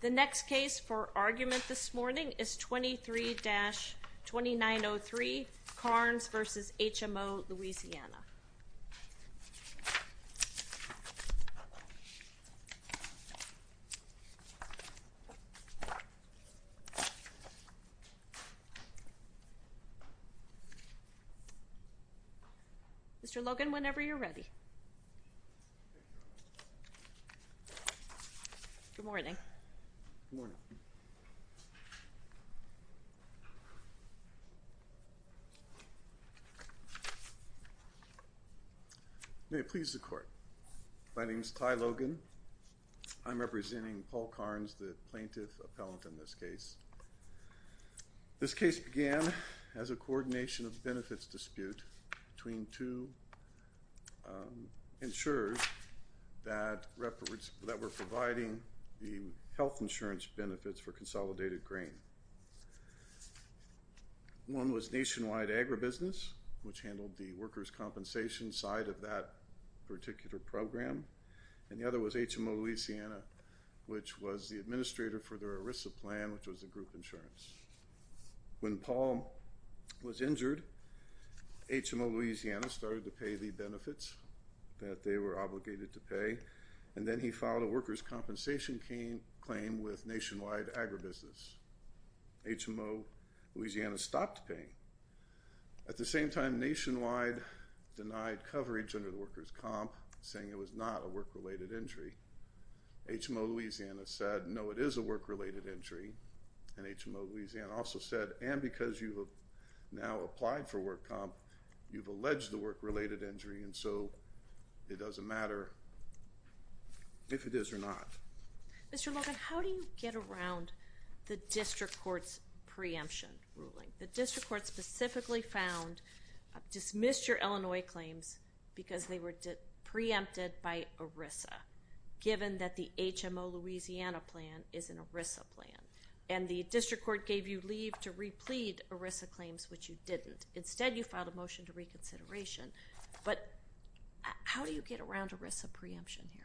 The next case for argument this morning is 23-2903 Carnes v. HMO Louisiana. Mr. Logan, whenever you're ready. Good morning. May it please the court. My name is Ty Logan. I'm representing Paul Carnes, the plaintiff appellant in this case. This case began as a coordination of benefits dispute between two insurers that were providing the health insurance benefits for consolidated grain. One was Nationwide Agribusiness, which handled the workers' compensation side of that particular program, and the other was HMO Louisiana, which was the administrator for their ERISA plan, which was the group insurance. When Paul was injured, HMO Louisiana started to pay the benefits that they were obligated to pay, and then he filed a workers' compensation claim with Nationwide Agribusiness. HMO Louisiana stopped paying. At the same time, Nationwide denied coverage under the workers' comp, saying it was not a work-related injury. HMO Louisiana said, no, it is a work-related injury, and HMO Louisiana also said, and because you have now applied for work comp, you've alleged the work-related injury, and so it doesn't matter if it is or not. Mr. Logan, how do you get around the district court's preemption ruling? The district court specifically found, dismissed your Illinois claims because they were preempted by ERISA, given that the HMO Louisiana plan is an ERISA plan, and the district court gave you leave to replead ERISA claims, which you didn't. Instead, you filed a motion to reconsideration, but how do you get around ERISA preemption here?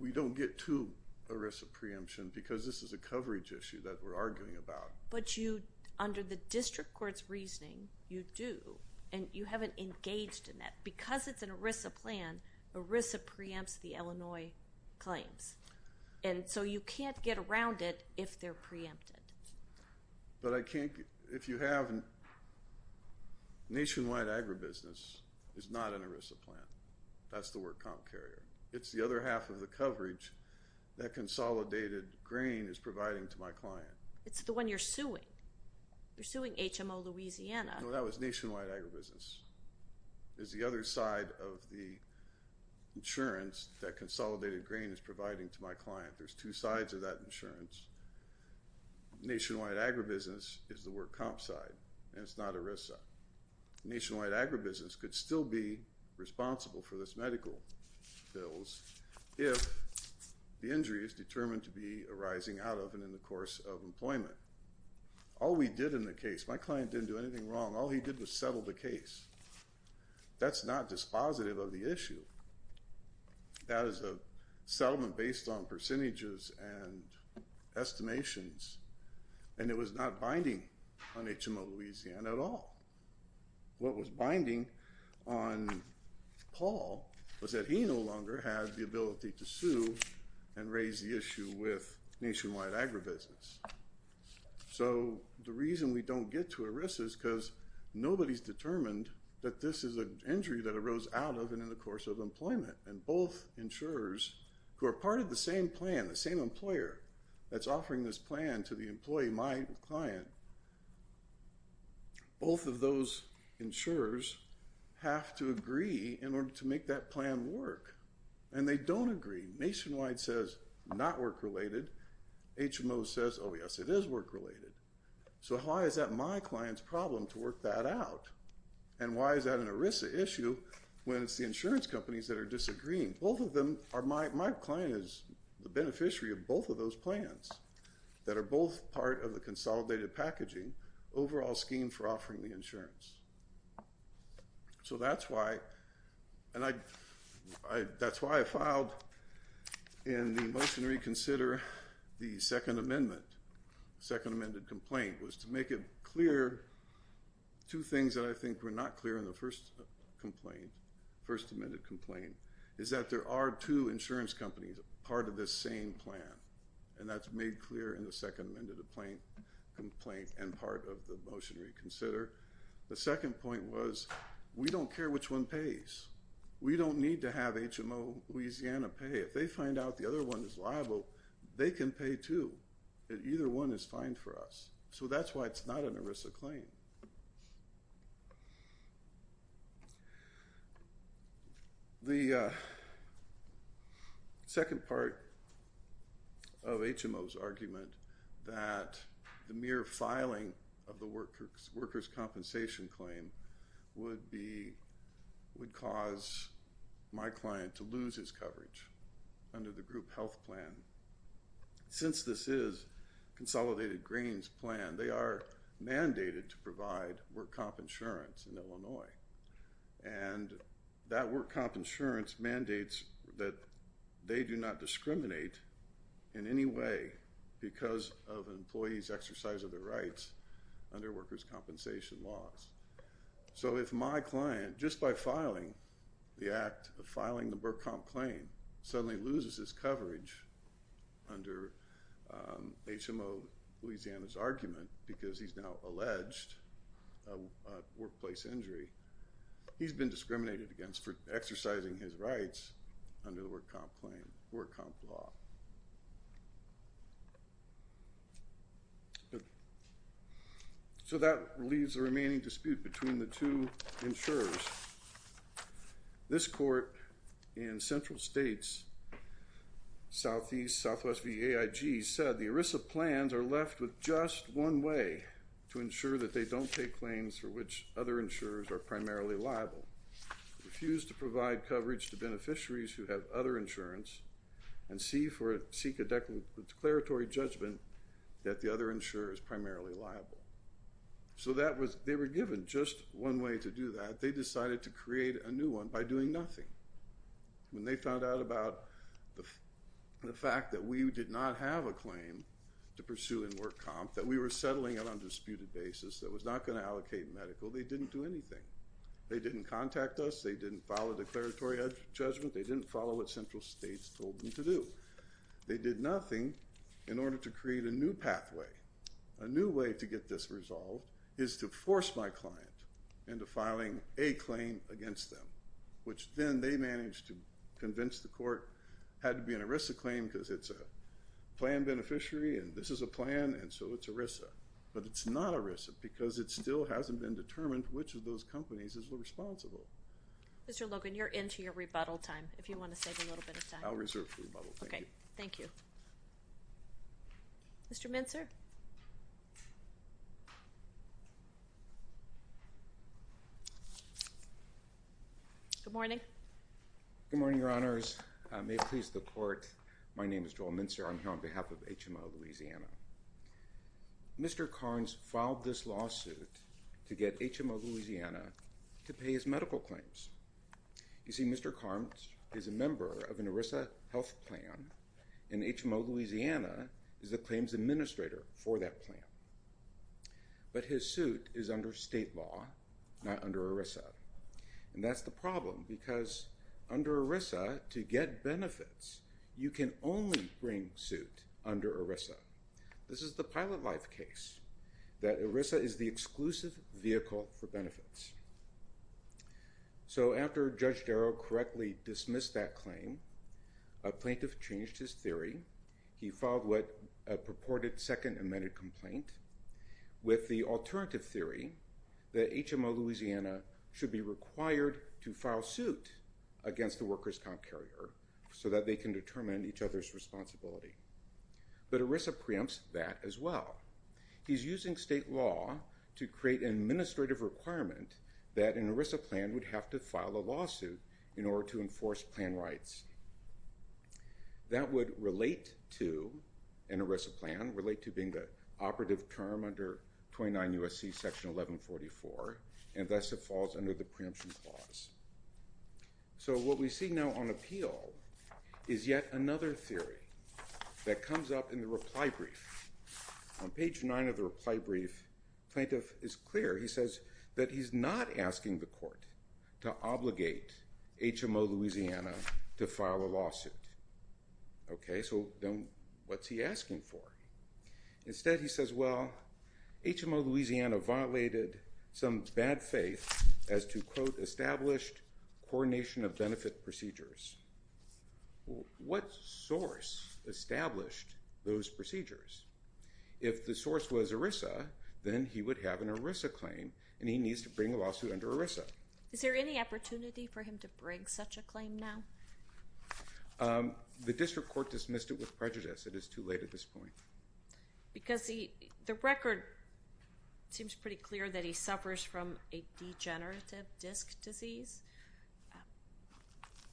We don't get to ERISA preemption because this is a coverage issue that we're arguing about. But you, under the district court's reasoning, you do, and you haven't engaged in that. Because it's an ERISA plan, ERISA preempts the Illinois claims, and so you can't get around it if they're preempted. But I can't, if you have, nationwide agribusiness is not an ERISA plan. That's the work comp area. It's the other half of the coverage that Consolidated Grain is providing to my client. It's the one you're suing. You're suing HMO Louisiana. No, that was nationwide agribusiness. It's the other side of the insurance that Consolidated Grain is providing to my client. There's two sides of that insurance. Nationwide agribusiness is the work comp side, and it's not ERISA. Nationwide agribusiness could still be responsible for this medical bills if the injury is determined to be arising out of and in the course of employment. All we did in the case, my client didn't do anything wrong. All he did was settle the case. That's not dispositive of the issue. That is a settlement based on percentages and estimations, and it was not binding on HMO Louisiana at all. What was binding on Paul was that he no longer had the ability to sue and raise the issue with nationwide agribusiness. So the reason we don't get to ERISA is because nobody's determined that this is an injury that arose out of and in the course of employment, and both insurers who are part of the same plan, the same employer that's offering this plan to the employee, my client, both of those insurers have to agree in order to make that plan work, and they don't agree. Nationwide says not work-related. HMO says, oh, yes, it is work-related. So why is that my client's problem to work that out? And why is that an ERISA issue when it's the insurance companies that are disagreeing? Both of them are my client is the beneficiary of both of those plans that are both part of the consolidated packaging overall scheme for offering the insurance. So that's why, and that's why I filed in the motion to reconsider the Second Amendment, the Second Amendment complaint, was to make it clear two things that I think were not clear in the First Amendment complaint is that there are two insurance companies, part of the same plan, and that's made clear in the Second Amendment complaint and part of the motion to reconsider. The second point was we don't care which one pays. We don't need to have HMO Louisiana pay. If they find out the other one is liable, they can pay too. Either one is fine for us. So that's why it's not an ERISA claim. The second part of HMO's argument that the mere filing of the workers' compensation claim would cause my client to lose his coverage under the group health plan, since this is a consolidated grains plan, they are mandated to provide work comp insurance in Illinois, and that work comp insurance mandates that they do not discriminate in any way because of an employee's exercise of their rights under workers' compensation laws. So if my client, just by filing the act of filing the work comp claim, suddenly loses his coverage under HMO Louisiana's argument because he's now alleged a workplace injury, he's been discriminated against for exercising his rights under the work comp law. So that leaves the remaining dispute between the two insurers. This court in Central States, Southeast, Southwest VAIG, said the ERISA plans are left with just one way to ensure that they don't take claims for which other insurers are primarily liable. They refuse to provide coverage to beneficiaries who have other insurance and seek a declaratory judgment that the other insurer is primarily liable. So they were given just one way to do that. They decided to create a new one by doing nothing. When they found out about the fact that we did not have a claim to pursue in work comp, that we were settling it on a disputed basis that was not going to allocate medical, they didn't do anything. They didn't contact us. They didn't file a declaratory judgment. They didn't follow what Central States told them to do. They did nothing in order to create a new pathway. A new way to get this resolved is to force my client into filing a claim against them, which then they managed to convince the court had to be an ERISA claim because it's a plan beneficiary and this is a plan and so it's ERISA. But it's not ERISA because it still hasn't been determined which of those companies is responsible. Mr. Logan, you're into your rebuttal time if you want to save a little bit of time. I'll reserve for rebuttal. Thank you. Okay. Thank you. Mr. Mintzer? Good morning. Good morning, Your Honors. May it please the court, my name is Joel Mintzer. I'm here on behalf of HMO Louisiana. Mr. Carnes filed this lawsuit to get HMO Louisiana to pay his medical claims. You see, Mr. Carnes is a member of an ERISA health plan and HMO Louisiana is the claims administrator for that plan. But his suit is under state law, not under ERISA. And that's the problem because under ERISA, to get benefits, you can only bring suit under ERISA. This is the pilot life case that ERISA is the exclusive vehicle for benefits. So after Judge Darrow correctly dismissed that claim, a plaintiff changed his theory. He filed a purported second amended complaint with the alternative theory saying that HMO Louisiana should be required to file suit against the workers' comp carrier so that they can determine each other's responsibility. But ERISA preempts that as well. He's using state law to create an administrative requirement that an ERISA plan would have to file a lawsuit in order to enforce plan rights. That would relate to an ERISA plan, relate to being the operative term under 29 U.S.C. section 1144, and thus it falls under the preemption clause. So what we see now on appeal is yet another theory that comes up in the reply brief. On page 9 of the reply brief, the plaintiff is clear. He says that he's not asking the court to obligate HMO Louisiana to file a lawsuit. Okay, so then what's he asking for? Instead, he says, well, HMO Louisiana violated some bad faith as to, quote, established coordination of benefit procedures. What source established those procedures? If the source was ERISA, then he would have an ERISA claim, and he needs to bring a lawsuit under ERISA. Is there any opportunity for him to bring such a claim now? The district court dismissed it with prejudice. It is too late at this point. Because the record seems pretty clear that he suffers from a degenerative disc disease,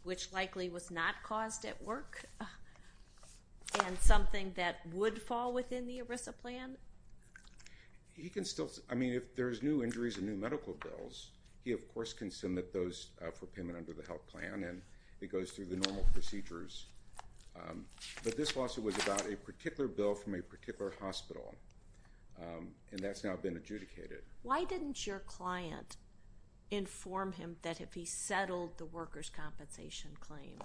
which likely was not caused at work and something that would fall within the ERISA plan. He can still – I mean, if there's new injuries and new medical bills, he, of course, can submit those for payment under the health plan, and it goes through the normal procedures. But this lawsuit was about a particular bill from a particular hospital, and that's now been adjudicated. Why didn't your client inform him that if he settled the workers' compensation claim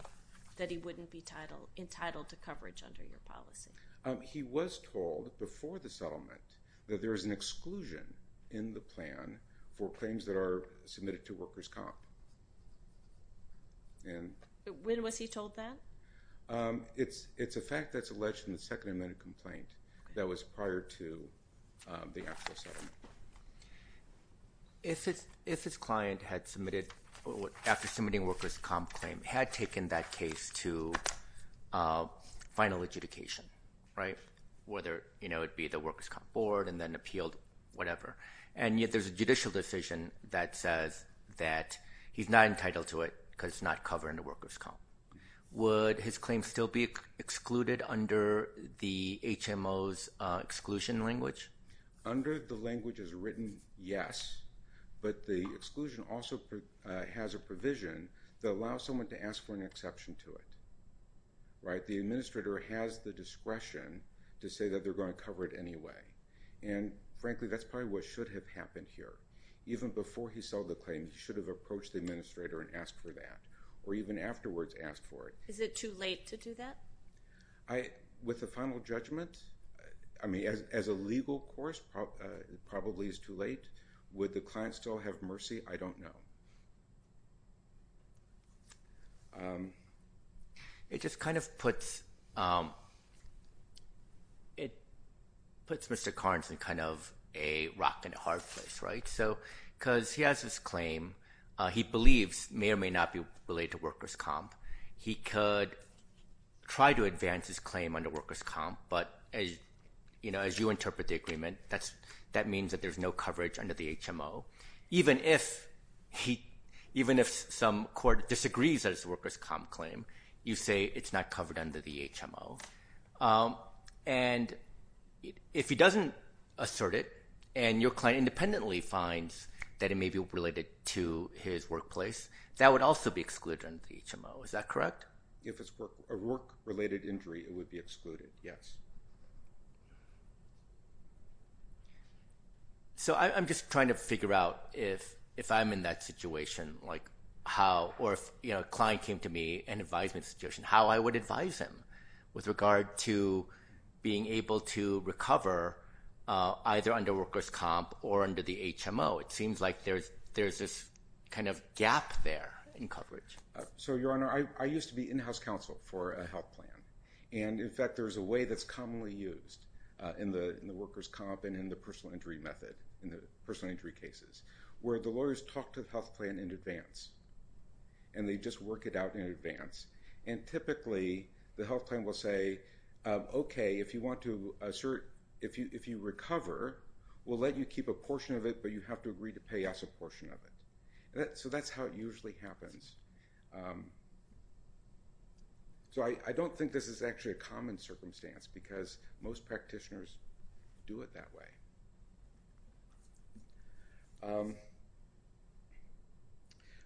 that he wouldn't be entitled to coverage under your policy? He was told before the settlement that there is an exclusion in the plan for claims that are submitted to workers' comp. When was he told that? It's a fact that's alleged in the second amendment complaint that was prior to the actual settlement. If his client had submitted – after submitting a workers' comp claim, had taken that case to final adjudication, right, whether it be the workers' comp board and then appealed, whatever, and yet there's a judicial decision that says that he's not entitled to it because it's not covering the workers' comp. Would his claim still be excluded under the HMO's exclusion language? Under the language as written, yes, but the exclusion also has a provision that allows someone to ask for an exception to it, right? The administrator has the discretion to say that they're going to cover it anyway. And, frankly, that's probably what should have happened here. Even before he sold the claim, he should have approached the administrator and asked for that or even afterwards asked for it. Is it too late to do that? With the final judgment, I mean, as a legal course, it probably is too late. Would the client still have mercy? I don't know. It just kind of puts Mr. Carnes in kind of a rock and a hard place, right, because he has this claim he believes may or may not be related to workers' comp. He could try to advance his claim under workers' comp, but, as you interpret the agreement, that means that there's no coverage under the HMO. Even if some court disagrees that it's a workers' comp claim, you say it's not covered under the HMO. And if he doesn't assert it and your client independently finds that it may be related to his workplace, that would also be excluded under the HMO. Is that correct? If it's a work-related injury, it would be excluded, yes. So I'm just trying to figure out if I'm in that situation, or if a client came to me in an advisement situation, how I would advise him with regard to being able to recover, either under workers' comp or under the HMO. It seems like there's this kind of gap there in coverage. So, Your Honor, I used to be in-house counsel for a health plan, and, in fact, there's a way that's commonly used in the workers' comp and in the personal injury method, in the personal injury cases, where the lawyers talk to the health plan in advance, and they just work it out in advance. And typically, the health plan will say, okay, if you want to assert, if you recover, we'll let you keep a portion of it, but you have to agree to pay us a portion of it. So that's how it usually happens. So I don't think this is actually a common circumstance, because most practitioners do it that way.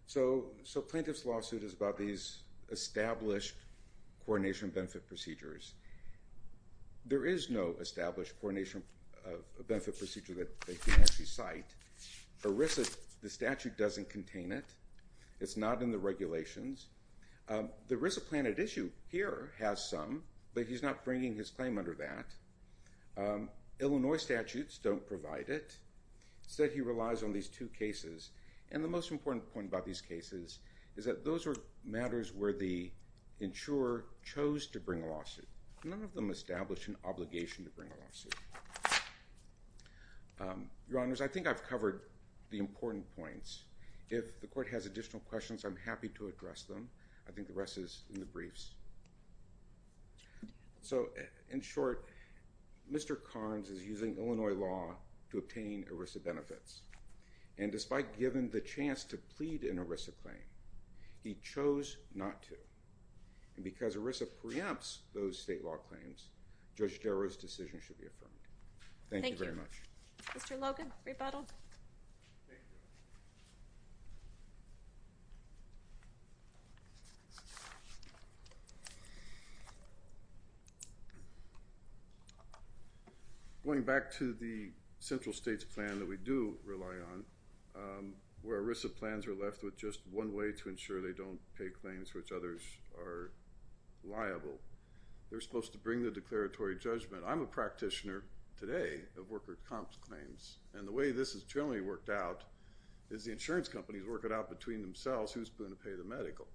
So plaintiff's lawsuit is about these established coordination benefit procedures. There is no established coordination benefit procedure that they can actually cite. ERISA, the statute, doesn't contain it. It's not in the regulations. The ERISA plan at issue here has some, but he's not bringing his claim under that. Illinois statutes don't provide it. Instead, he relies on these two cases. And the most important point about these cases is that those are matters where the insurer chose to bring a lawsuit. None of them establish an obligation to bring a lawsuit. Your Honors, I think I've covered the important points. If the Court has additional questions, I'm happy to address them. I think the rest is in the briefs. So, in short, Mr. Carnes is using Illinois law to obtain ERISA benefits. And despite given the chance to plead an ERISA claim, he chose not to. And because ERISA preempts those state law claims, Judge Jarrell's decision should be affirmed. Thank you very much. Mr. Logan, rebuttal. Going back to the central states plan that we do rely on, where ERISA plans are left with just one way to ensure they don't pay claims which others are liable, they're supposed to bring the declaratory judgment. I'm a practitioner today of worker comp claims. And the way this is generally worked out is the insurance companies work it out between themselves, who's going to pay the medical.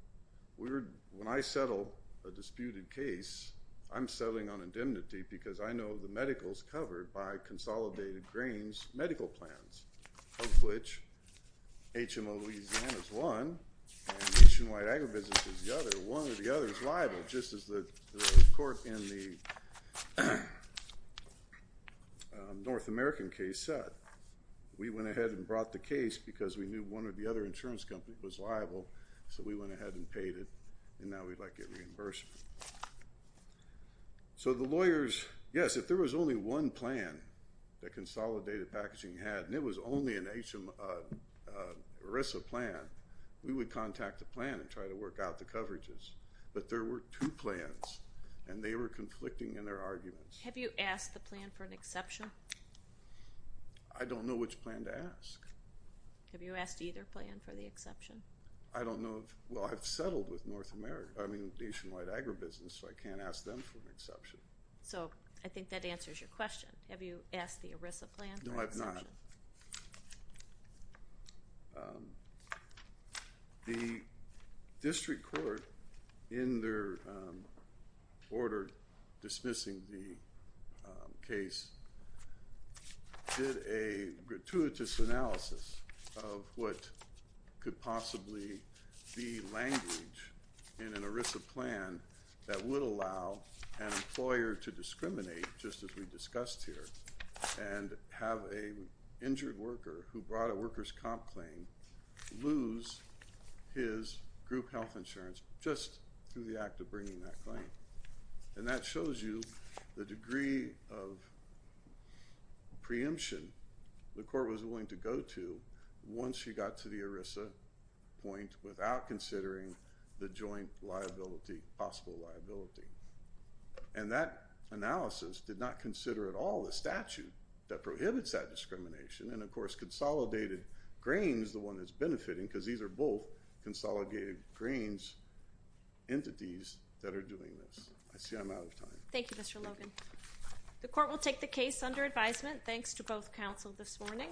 When I settle a disputed case, I'm settling on indemnity because I know the medical is covered by consolidated grains medical plans, of which HMO Louisiana is one and HMO Agribusiness is the other. One or the other is liable, just as the court in the North American case said. We went ahead and brought the case because we knew one or the other insurance company was liable, so we went ahead and paid it, and now we'd like a reimbursement. So the lawyers, yes, if there was only one plan that consolidated packaging had, and it was only an ERISA plan, we would contact the plan and try to work out the coverages. But there were two plans, and they were conflicting in their arguments. Have you asked the plan for an exception? I don't know which plan to ask. Have you asked either plan for the exception? I don't know. Well, I've settled with Nationwide Agribusiness, so I can't ask them for an exception. So I think that answers your question. Have you asked the ERISA plan for an exception? No, I have not. The district court, in their order dismissing the case, did a gratuitous analysis of what could possibly be language in an ERISA plan that would allow an employer to discriminate, just as we discussed here, and have an injured worker who brought a workers' comp claim lose his group health insurance just through the act of bringing that claim. And that shows you the degree of preemption the court was willing to go to once you got to the ERISA point without considering the joint liability, possible liability. And that analysis did not consider at all the statute that prohibits that discrimination. And, of course, Consolidated Grains is the one that's benefiting because these are both Consolidated Grains entities that are doing this. I see I'm out of time. Thank you, Mr. Logan. The court will take the case under advisement. Thanks to both counsel this morning.